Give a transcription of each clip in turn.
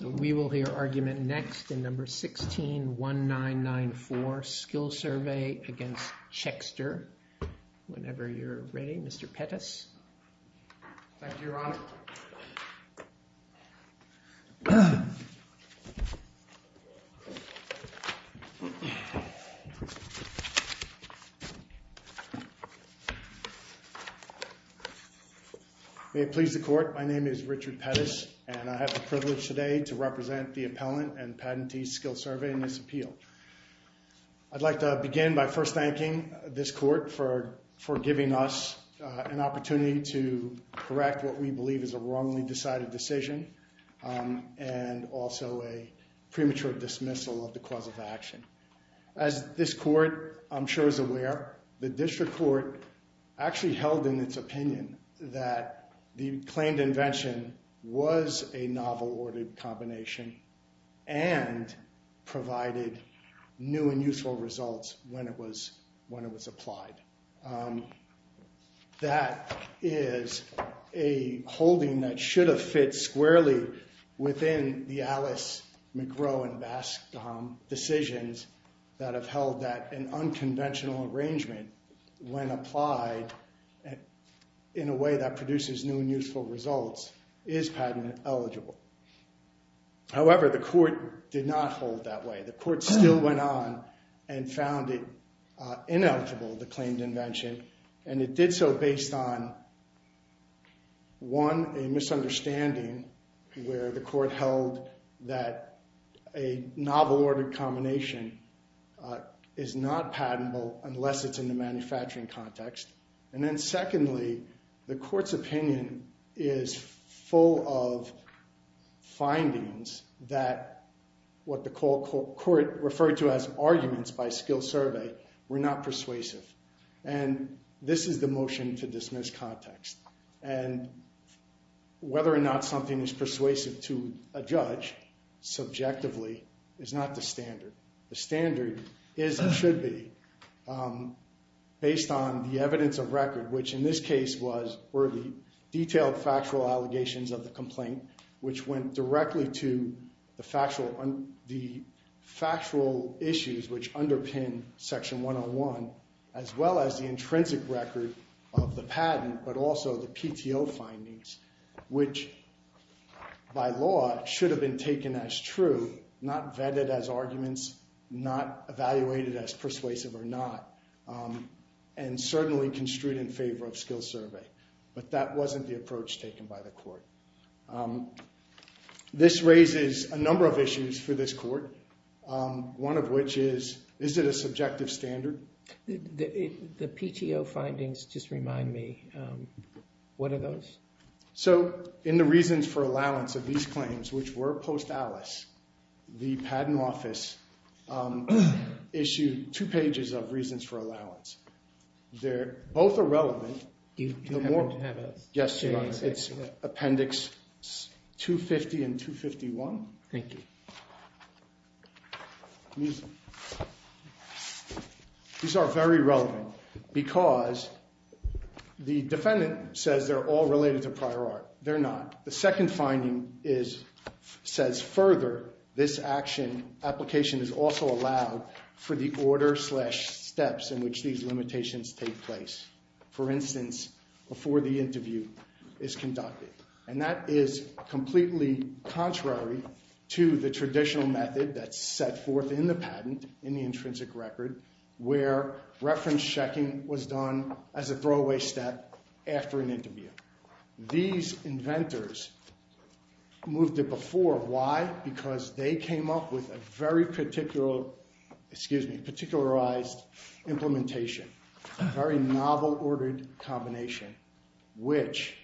So we will hear argument next in number six. Sixteen one nine nine four skill survey against Checkster whenever you're ready, Mr Pettis. May it please the court, my name is Richard Pettis and I have the privilege today to represent the appellant and patentee skill survey in this appeal. I'd like to begin by first thanking this court for for giving us an opportunity to correct what we believe is a wrongly decided decision and also a premature dismissal of the cause of action. As this court I'm sure is aware, the district court actually held in its opinion that the and provided new and useful results when it was when it was applied. That is a holding that should have fit squarely within the Alice McGraw and Bascom decisions that have held that an unconventional arrangement when applied in a way that produces new and useful results is patent eligible. However, the court did not hold that way. The court still went on and found it ineligible, the claimed invention, and it did so based on one, a misunderstanding where the court held that a novel order combination is not patentable unless it's in the manufacturing context. And then secondly, the court's opinion is full of findings that what the court referred to as arguments by skill survey were not persuasive. And this is the motion to dismiss context and whether or not something is persuasive to a judge subjectively is not the standard. The standard is and should be based on the evidence of record, which in this case was worthy detailed factual allegations of the complaint, which went directly to the factual issues which underpin section 101, as well as the intrinsic record of the patent, but also the PTO findings, which by law should have been taken as true, not vetted as arguments, not evaluated as persuasive or not, and certainly construed in favor of skill survey. But that wasn't the approach taken by the court. This raises a number of issues for this court, one of which is, is it a subjective standard? The PTO findings just remind me, what are those? So in the reasons for allowance of these claims, which were post Alice, the patent office issued two pages of reasons for allowance. They're both irrelevant. You don't want to have us. Yes, Your Honor. It's appendix 250 and 251. Thank you. These are very relevant because the defendant says they're all related to prior art. They're not. The second finding is, says further, this action application is also allowed for the order slash steps in which these limitations take place. For instance, before the interview is conducted. And that is completely contrary to the traditional method that's set forth in the patent, in the intrinsic record, where reference checking was done as a throwaway step after an interview. These inventors moved it before. Why? Because they came up with a very particular, excuse me, particularized implementation. Very novel ordered combination, which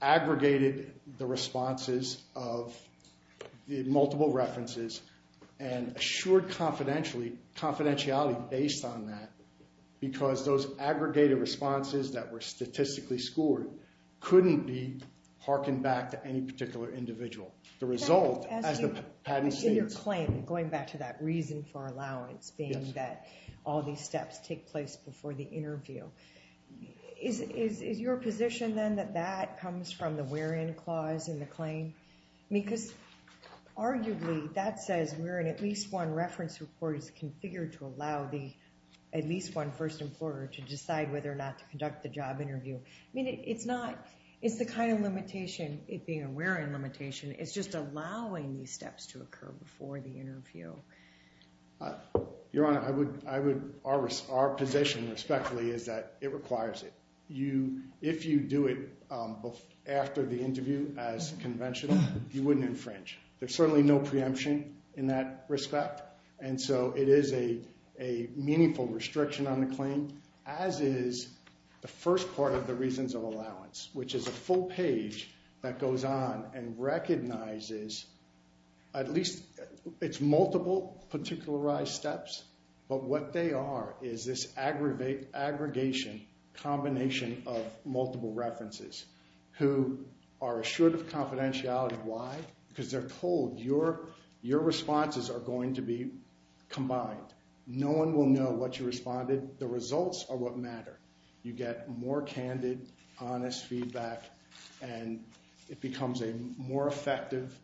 aggregated the responses of the multiple references and assured confidentiality based on that. Because those aggregated responses that were statistically scored couldn't be hearkened back to any particular individual. The result, as the patent states- In your claim, going back to that reason for allowance being that all these steps take place before the interview, is your position then that that comes from the where in clause in the claim? I mean, because arguably, that says we're in at least one reference report is configured to allow the, at least one first employer to decide whether or not to conduct the job interview. I mean, it's not, it's the kind of limitation, it being a where in limitation, it's just allowing these steps to occur before the interview. Your Honor, I would, our position respectfully is that it requires it. If you do it after the interview as conventional, you wouldn't infringe. There's certainly no preemption in that respect. And so it is a meaningful restriction on the claim, as is the first part of the reasons of allowance, which is a full page that goes on and recognizes at least, it's multiple particularized steps, but what they are is this aggregation combination of multiple references who are assured of confidentiality. Why? Because they're told your responses are going to be combined. No one will know what you responded, the results are what matter. You get more candid, honest feedback, and it becomes a more effective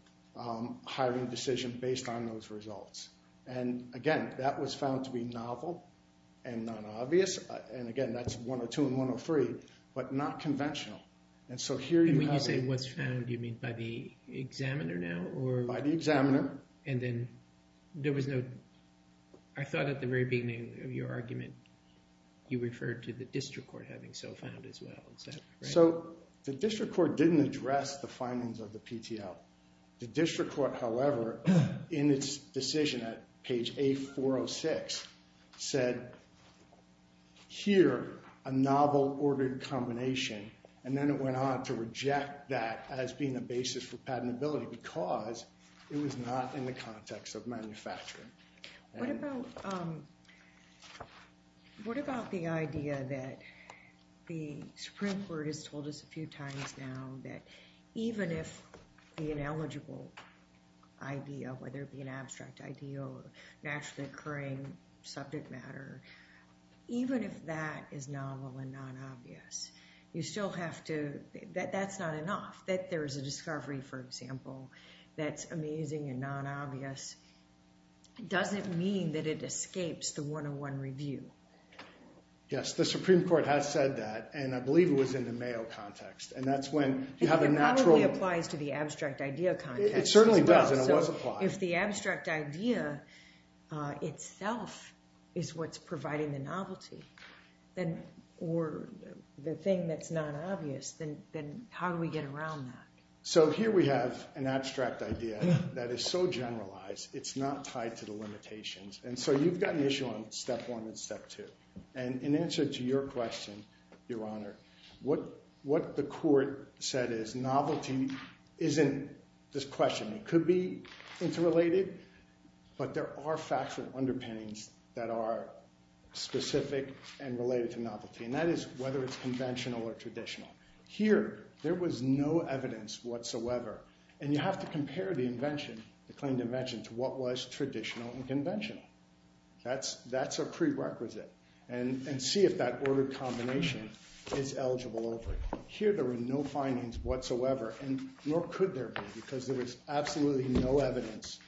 hiring decision based on those results. And again, that was found to be novel and not obvious. And again, that's 102 and 103, but not conventional. And so here you have a- And when you say what's found, you mean by the examiner now, or- By the examiner. And then there was no, I thought at the very beginning of your argument, you referred to the district court having so found as well, is that right? So the district court didn't address the findings of the PTO. The district court, however, in its decision at page A406 said, here, a novel ordered combination, and then it went on to reject that as being a basis for patentability because it was not in the context of manufacturing. What about the idea that the Supreme Court has told us a few times now that even if the eligible idea, whether it be an abstract idea or naturally occurring subject matter, even if that is novel and non-obvious, you still have to, that's not enough, that there is a discovery, for example, that's amazing and non-obvious doesn't mean that it escapes the one-on-one review. Yes, the Supreme Court has said that, and I believe it was in the Mayo context, and that's when you have a natural- It certainly does, and it was applied. If the abstract idea itself is what's providing the novelty, or the thing that's not obvious, then how do we get around that? So here we have an abstract idea that is so generalized, it's not tied to the limitations. And so you've got an issue on step one and step two. In answer to your question, Your Honor, what the court said is novelty isn't this question. It could be interrelated, but there are facts and underpinnings that are specific and related to novelty, and that is whether it's conventional or traditional. Here there was no evidence whatsoever, and you have to compare the invention, the claimed invention, to what was traditional and conventional. That's a prerequisite, and see if that order combination is eligible over it. Here there were no findings whatsoever, and nor could there be, because there was absolutely no evidence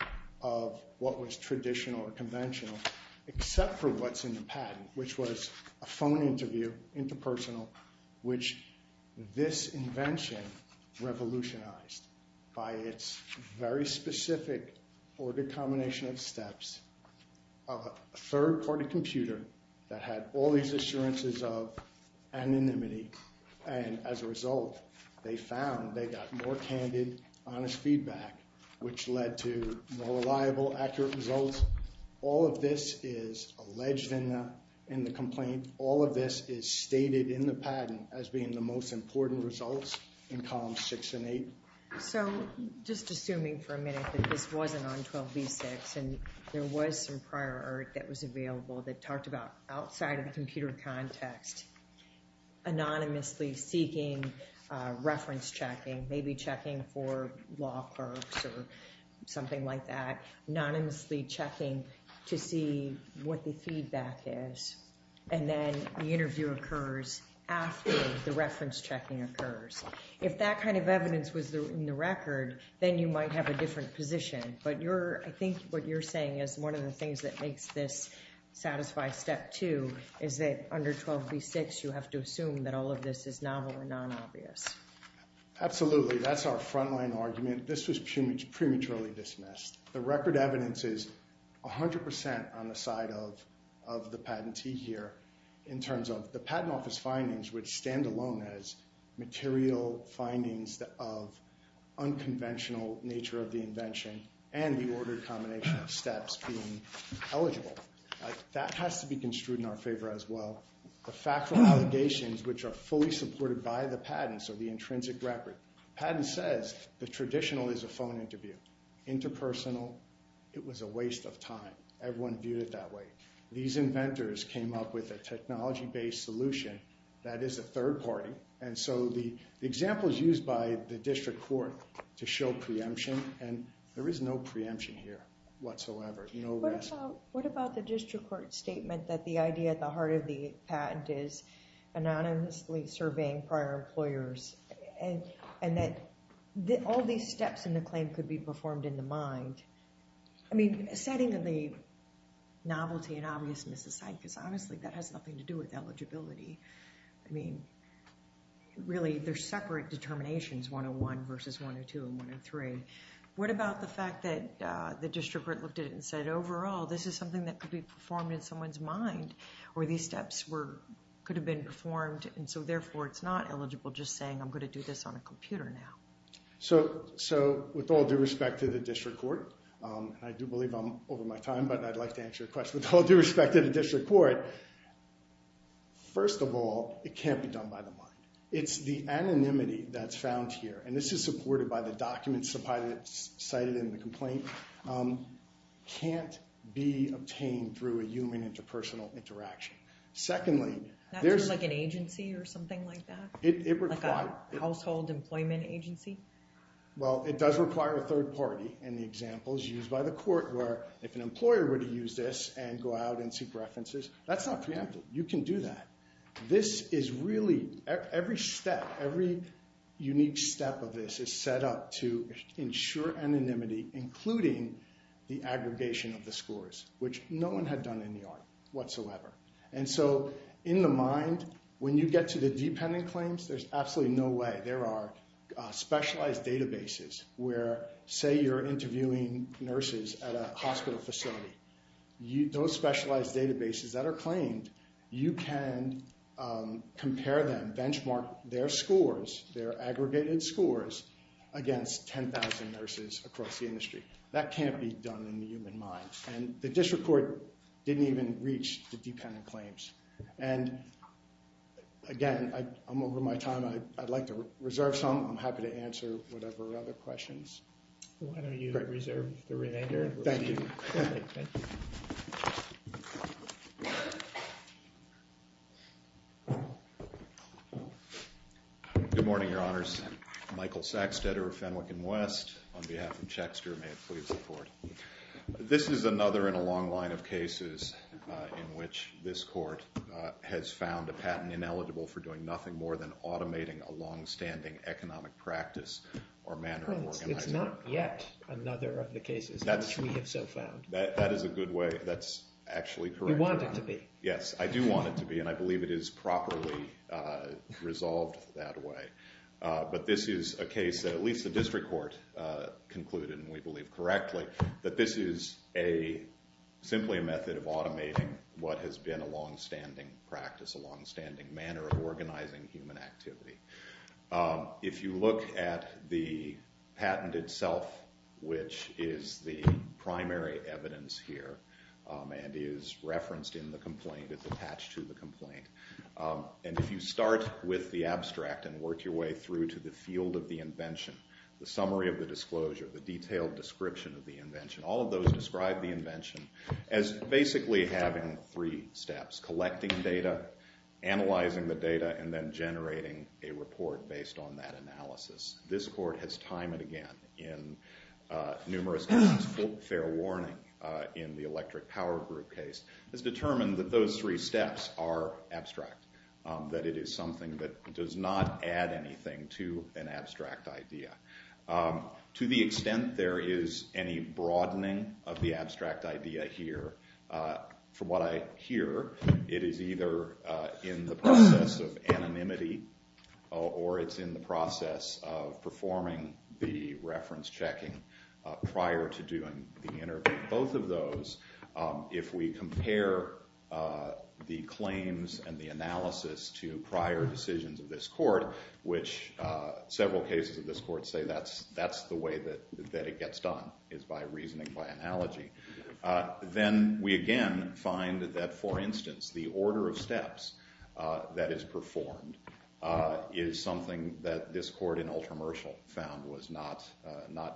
of what was traditional or conventional, except for what's in the patent, which was a phone interview, interpersonal, which this invention revolutionized by its very specific order combination of steps, a third-party computer that had all these assurances of anonymity, and as a result, they found they got more candid, honest feedback, which led to more reliable, accurate results. All of this is alleged in the complaint. All of this is stated in the patent as being the most important results in columns six and eight. So just assuming for a minute that this wasn't on 12b6, and there was some prior art that was available that talked about outside of the computer context, anonymously seeking reference checking, maybe checking for law clerks or something like that, anonymously checking to see what the feedback is, and then the interview occurs after the reference checking occurs. If that kind of evidence was in the record, then you might have a different position, but I think what you're saying is one of the things that makes this satisfy step two is that under 12b6, you have to assume that all of this is novel and non-obvious. Absolutely. That's our frontline argument. This was prematurely dismissed. The record evidence is 100% on the side of the patentee here in terms of the patent office findings, which stand alone as material findings of unconventional nature of the invention and the ordered combination of steps being eligible. That has to be construed in our favor as well. The factual allegations, which are fully supported by the patents of the intrinsic record. The patent says the traditional is a phone interview, interpersonal, it was a waste of time. Everyone viewed it that way. These inventors came up with a technology-based solution that is a third party, and so the example is used by the district court to show preemption, and there is no preemption here whatsoever. No risk. What about the district court statement that the idea at the heart of the patent is anonymously surveying prior employers, and that all these steps in the claim could be performed in the mind? I mean, setting the novelty and obviousness aside, because honestly, that has nothing to do with eligibility, I mean, really, they're separate determinations, 101 versus 102 and 103. What about the fact that the district court looked at it and said, overall, this is something that could be performed in someone's mind, or these steps could have been performed, and so therefore, it's not eligible just saying, I'm going to do this on a computer now. So with all due respect to the district court, and I do believe I'm over my time, but I'd like to answer your question. With all due respect to the district court, first of all, it can't be done by the mind. It's the anonymity that's found here, and this is supported by the documents cited in the complaint, can't be obtained through a human interpersonal interaction. Secondly, there's- That's like an agency or something like that? It requires- A household employment agency? Well, it does require a third party, and the example is used by the court where if an employer were to use this and go out and seek references, that's not preempted. You can do that. This is really, every step, every unique step of this is set up to ensure anonymity, including the aggregation of the scores, which no one had done in the art whatsoever. And so in the mind, when you get to the dependent claims, there's absolutely no way. There are specialized databases where, say you're interviewing nurses at a hospital facility. Those specialized databases that are claimed, you can compare them, benchmark their scores, their aggregated scores, against 10,000 nurses across the industry. That can't be done in the human mind. And the district court didn't even reach the dependent claims. And again, I'm over my time. I'd like to reserve some. I'm happy to answer whatever other questions. Why don't you reserve the remainder? Thank you. Good morning, your honors. Michael Saxtetter, Fenwick & West, on behalf of Chexter. May it please the court. This is another in a long line of cases in which this court has found a patent ineligible for doing nothing more than automating a longstanding economic practice or manner of organizing. It's not yet another of the cases which we have so found. That is a good way. That's actually correct. You want it to be. Yes, I do want it to be. And I believe it is properly resolved that way. But this is a case that at least the district court concluded, and we believe correctly, that this is simply a method of automating what has been a longstanding practice, a longstanding manner of organizing human activity. If you look at the patent itself, which is the primary evidence here and is referenced in the complaint, it's attached to the complaint. And if you start with the abstract and work your way through to the field of the invention, the summary of the disclosure, the detailed description of the invention, all of those describe the invention as basically having three steps, collecting data, analyzing the data, and then generating a report based on that analysis. This court has time and again in numerous cases, fair warning in the electric power group case, has determined that those three steps are abstract, that it is something that does not add anything to an abstract idea. To the extent there is any broadening of the abstract idea here, from what I hear, it is either in the process of anonymity or it's in the process of performing the reference checking prior to doing the interview. Both of those, if we compare the claims and the analysis to prior decisions of this court, which several cases of this court say that's the way that it gets done, is by reasoning by analogy, then we again find that, for instance, the order of steps that is performed is something that this court in Ultramercial found was not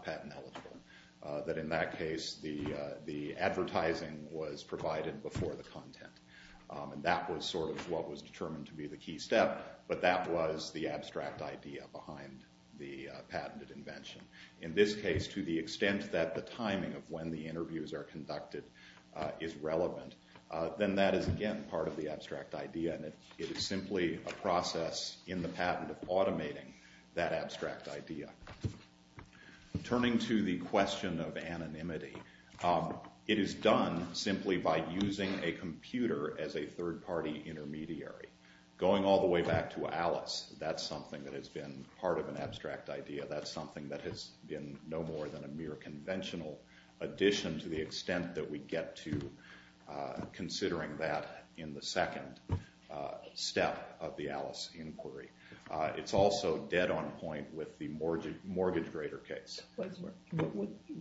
patent eligible. That in that case, the advertising was provided before the content. And that was sort of what was determined to be the key step, but that was the abstract idea behind the patented invention. In this case, to the extent that the timing of when the interviews are conducted is relevant, then that is, again, part of the abstract idea. And it is simply a process in the patent of automating that abstract idea. Turning to the question of anonymity, it is done simply by using a computer as a third party intermediary. Going all the way back to Alice, that's something that has been part of an abstract idea. That's something that has been no more than a mere conventional addition to the extent that we get to considering that in the second step of the Alice inquiry. It's also dead on point with the mortgage grader case.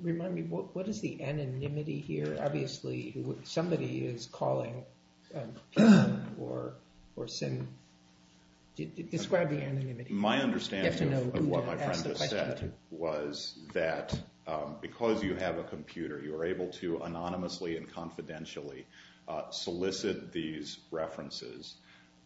Remind me, what is the anonymity here? Obviously, somebody is calling or sending. Describe the anonymity. My understanding of what my friend just said was that because you have a computer, you are able to anonymously and confidentially solicit these references.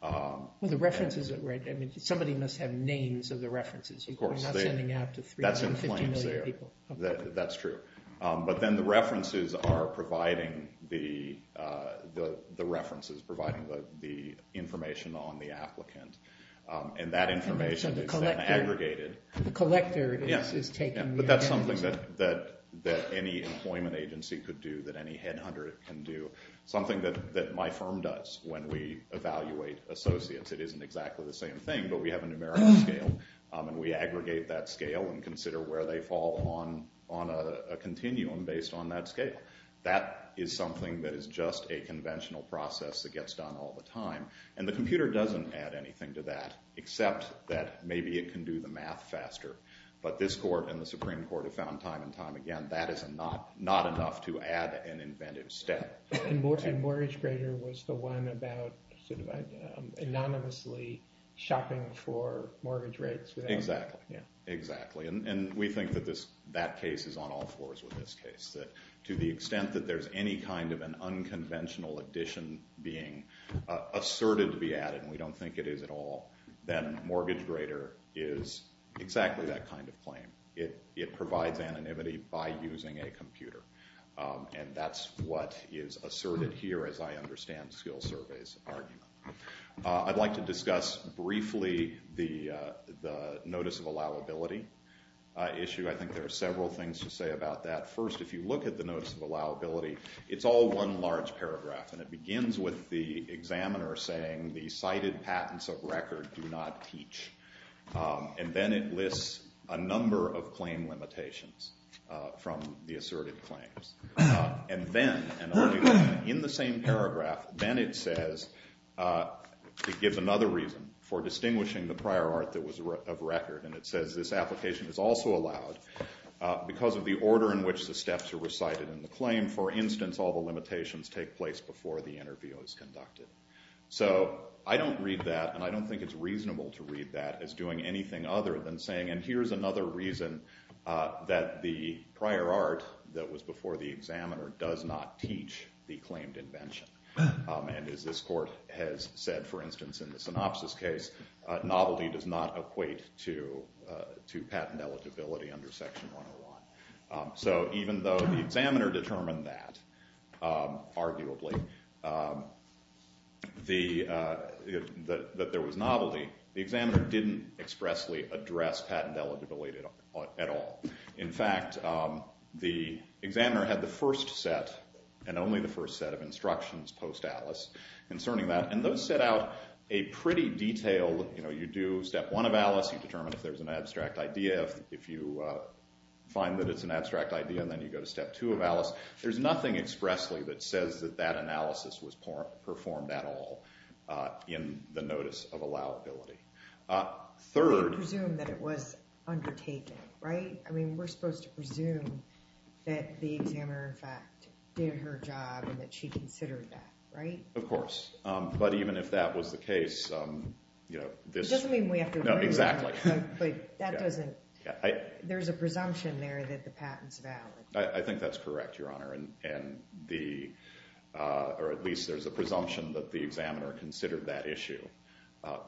Well, the references that we're, I mean, somebody must have names of the references. You're not sending out to 350 million people. That's true. But then the references are providing the references, providing the information on the applicant. And that information is then aggregated. The collector is taking the information. But that's something that any employment agency could do, that any headhunter can do. Something that my firm does when we evaluate associates. It isn't exactly the same thing, but we have a numerical scale. And we aggregate that scale and consider where they fall on a continuum based on that scale. That is something that is just a conventional process that gets done all the time. And the computer doesn't add anything to that, except that maybe it can do the math faster. But this court and the Supreme Court have found time and time again, that is not enough to add an inventive step. And Mortgage Grader was the one about anonymously shopping for mortgage rates. Exactly. Exactly. And we think that that case is on all floors with this case. To the extent that there's any kind of an unconventional addition being asserted to be added, and we don't think it is at all, then Mortgage Grader is exactly that kind of claim. It provides anonymity by using a computer. And that's what is asserted here, as I understand Skill Survey's argument. I'd like to discuss briefly the notice of allowability issue. I think there are several things to say about that. First, if you look at the notice of allowability, it's all one large paragraph. And it begins with the examiner saying, the cited patents of record do not teach. And then it lists a number of claim limitations from the asserted claims. And then, in the same paragraph, then it says, it gives another reason for distinguishing the prior art that was of record. And it says, this application is also allowed because of the order in which the steps are recited in the claim. For instance, all the limitations take place before the interview is conducted. So I don't read that, and I don't think it's reasonable to read that as doing anything other than saying, and here's another reason that the prior art that was before the examiner does not teach the claimed invention. And as this court has said, for instance, in the synopsis case, novelty does not equate to patent eligibility under Section 101. So even though the examiner determined that, arguably, that there was novelty, the examiner didn't expressly address patent eligibility at all. In fact, the examiner had the first set, and only the first set, of instructions post-ALICE concerning that. And those set out a pretty detailed, you do step one of ALICE, you determine if there's an abstract idea. If you find that it's an abstract idea, and then you go to step two of ALICE, there's nothing expressly that says that that analysis was performed at all in the notice of allowability. Third. You presume that it was undertaken, right? I mean, we're supposed to presume that the examiner, in fact, did her job and that she considered that, right? Of course. But even if that was the case, you know, this. It doesn't mean we have to agree. No, exactly. But that doesn't, there's a presumption there that the patent's valid. I think that's correct, Your Honor. And the, or at least there's a presumption that the examiner considered that issue.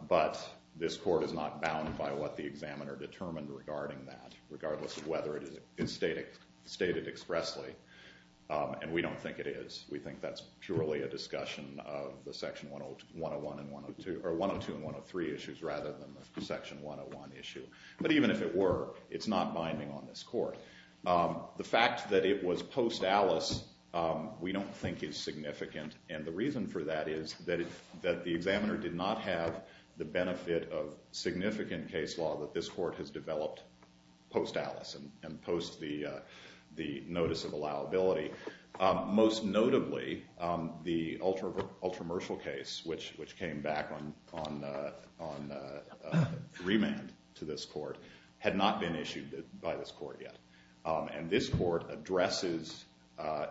But this court is not bound by what the examiner determined regarding that, regardless of whether it is stated expressly. And we don't think it is. We think that's purely a discussion of the section 101 and 102, or 102 and 103 issues, rather than the section 101 issue. But even if it were, it's not binding on this court. The fact that it was post-Alice, we don't think is significant. And the reason for that is that the examiner did not have the benefit of significant case law that this court has developed post-Alice and post the notice of allowability. Most notably, the ultra-mercial case, which came back on remand to this court, had not been issued by this court yet. And this court addresses,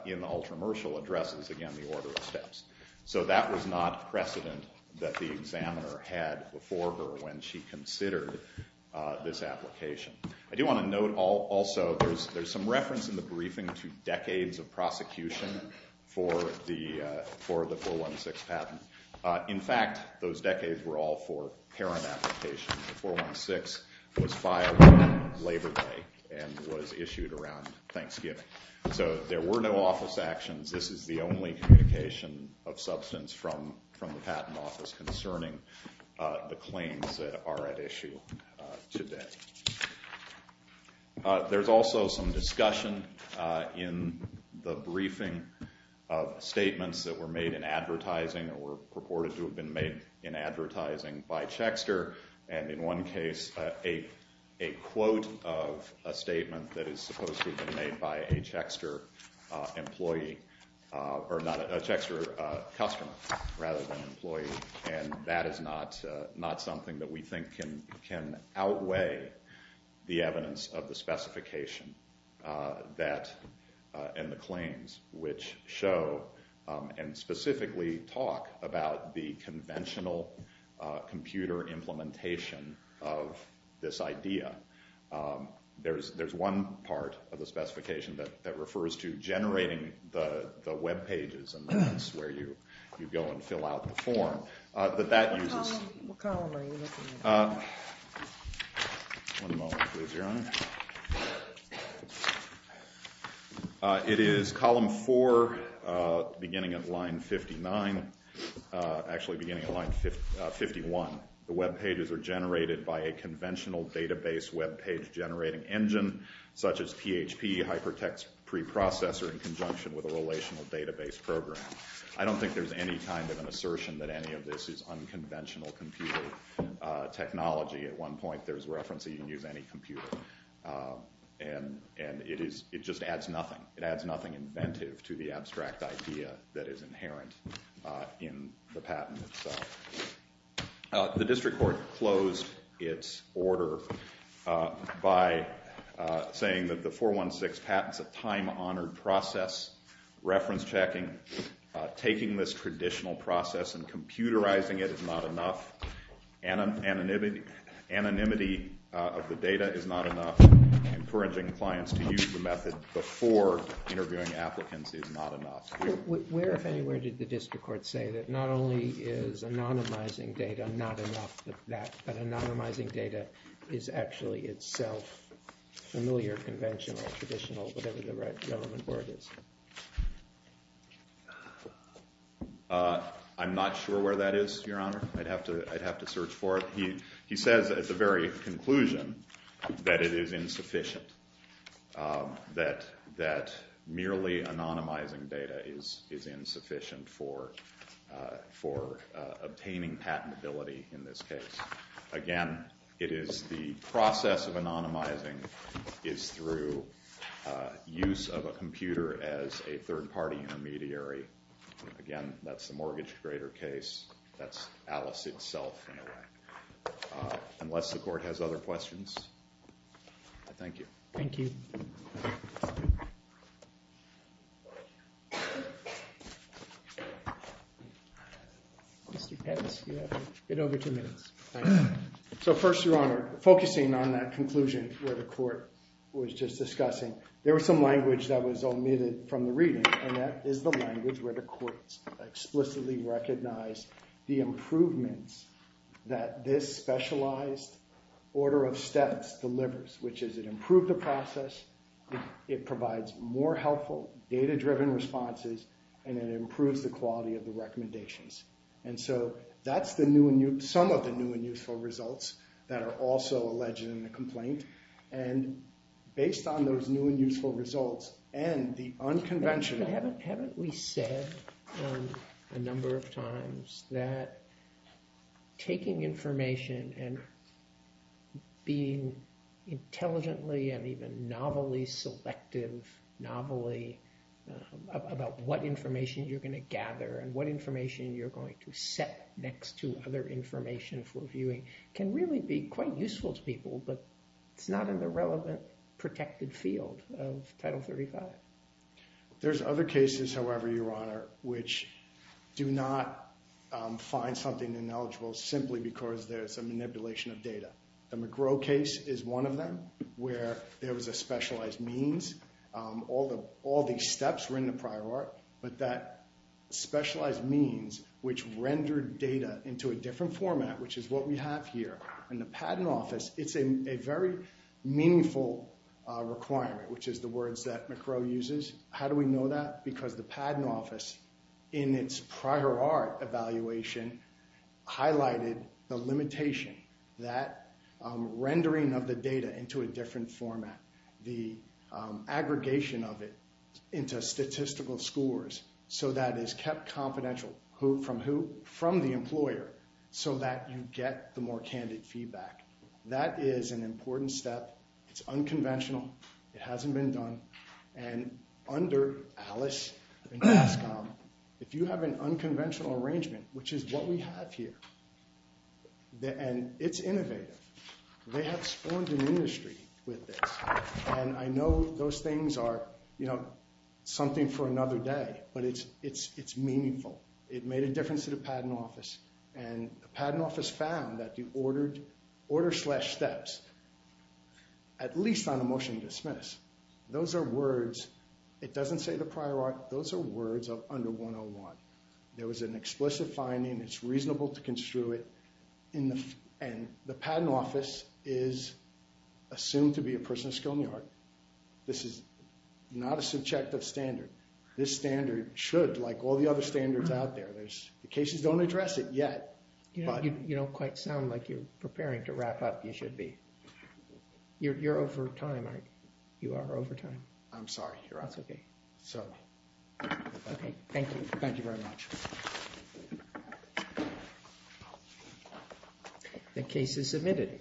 in the ultra-mercial, addresses, again, the order of steps. So that was not precedent that the examiner had before her when she considered this application. I do want to note, also, there's some reference in the briefing to decades of prosecution for the 416 patent. In fact, those decades were all for parent application. The 416 was filed on Labor Day and was issued around Thanksgiving. So there were no office actions. This is the only communication of substance from the patent office concerning the claims that are at issue today. There's also some discussion in the briefing of statements that were made in advertising or were purported to have been made in advertising by Chexter. And in one case, a quote of a statement that is supposed to have been made by a Chexter customer rather than employee. And that is not something that we think can outweigh the evidence of the specification and the claims, which show and specifically talk about the conventional computer implementation of this idea. There's one part of the specification that refers to generating the web pages and that's where you go and fill out the form. But that uses. What column are you looking at? One moment, please, Your Honor. It is column four, beginning at line 59, actually beginning at line 51. The web pages are generated by a conventional database web page generating engine, such as PHP, Hypertext Preprocessor in conjunction with a relational database program. I don't think there's any kind of an assertion that any of this is unconventional computer technology. At one point, there was a reference that you can use any computer. And it just adds nothing. It adds nothing inventive to the abstract idea that is inherent in the patent itself. The district court closed its order by saying that the 416 patent's a time-honored process. Reference checking, taking this traditional process and computerizing it is not enough. Anonymity of the data is not enough. Encouraging clients to use the method before interviewing applicants is not enough. Where, if anywhere, did the district court say that not only is anonymizing data not enough, but that anonymizing data is actually itself familiar, conventional, traditional, whatever the right gentleman's word is? I'm not sure where that is, Your Honor. I'd have to search for it. He says at the very conclusion that it is insufficient, that merely anonymizing data is insufficient for obtaining patentability in this case. Again, it is the process of anonymizing is through use of a computer as a third party intermediary. Again, that's the mortgage grader case. That's Alice itself, in a way. Unless the court has other questions, I thank you. Thank you. Mr. Pence, you have a bit over two minutes. So first, Your Honor, focusing on that conclusion where the court was just discussing, there was some language that was omitted from the reading. And that is the language where the court explicitly recognized the improvements that this specialized order of steps delivers, which is it improved the process, it provides more helpful data-driven responses, and it improves the quality of the recommendations. And so that's some of the new and useful results that are also alleged in the complaint. And based on those new and useful results and the unconventional. Haven't we said a number of times that taking information and being intelligently and even novelly selective, novelly, about what information you're going to gather and what information you're going to set next to other information for viewing can really be quite useful to people, but it's not in the relevant protected field of Title 35. There's other cases, however, Your Honor, which do not find something ineligible simply because there's a manipulation of data. The McGrow case is one of them, where there was a specialized means. All these steps were in the prior art, but that specialized means, which rendered data into a different format, which is what we have here in the Patent Office, it's a very meaningful requirement, which is the words that McGrow uses. How do we know that? Because the Patent Office, in its prior art evaluation, highlighted the limitation that rendering of the data into a different format, the aggregation of it into statistical scores, so that is kept confidential. Who, from who? From the employer, so that you get the more candid feedback. That is an important step. It's unconventional. It hasn't been done. And under Alice and NASCOM, if you have an unconventional arrangement, which is what we have here, and it's innovative, they have spawned an industry with this. And I know those things are something for another day, but it's meaningful. It made a difference to the Patent Office. And the Patent Office found that the order slash steps, at least on a motion to dismiss, those are words, it doesn't say the prior art, those are words of under 101. There was an explicit finding, it's reasonable to construe it, and the Patent Office is assumed to be a person of skill in the art. This is not a subjective standard. This standard should, like all the other standards out there, the cases don't address it yet. You don't quite sound like you're preparing to wrap up. You should be. You're over time, aren't you? You are over time. I'm sorry. You're out of time. That's OK. OK, thank you. Thank you very much. The case is submitted.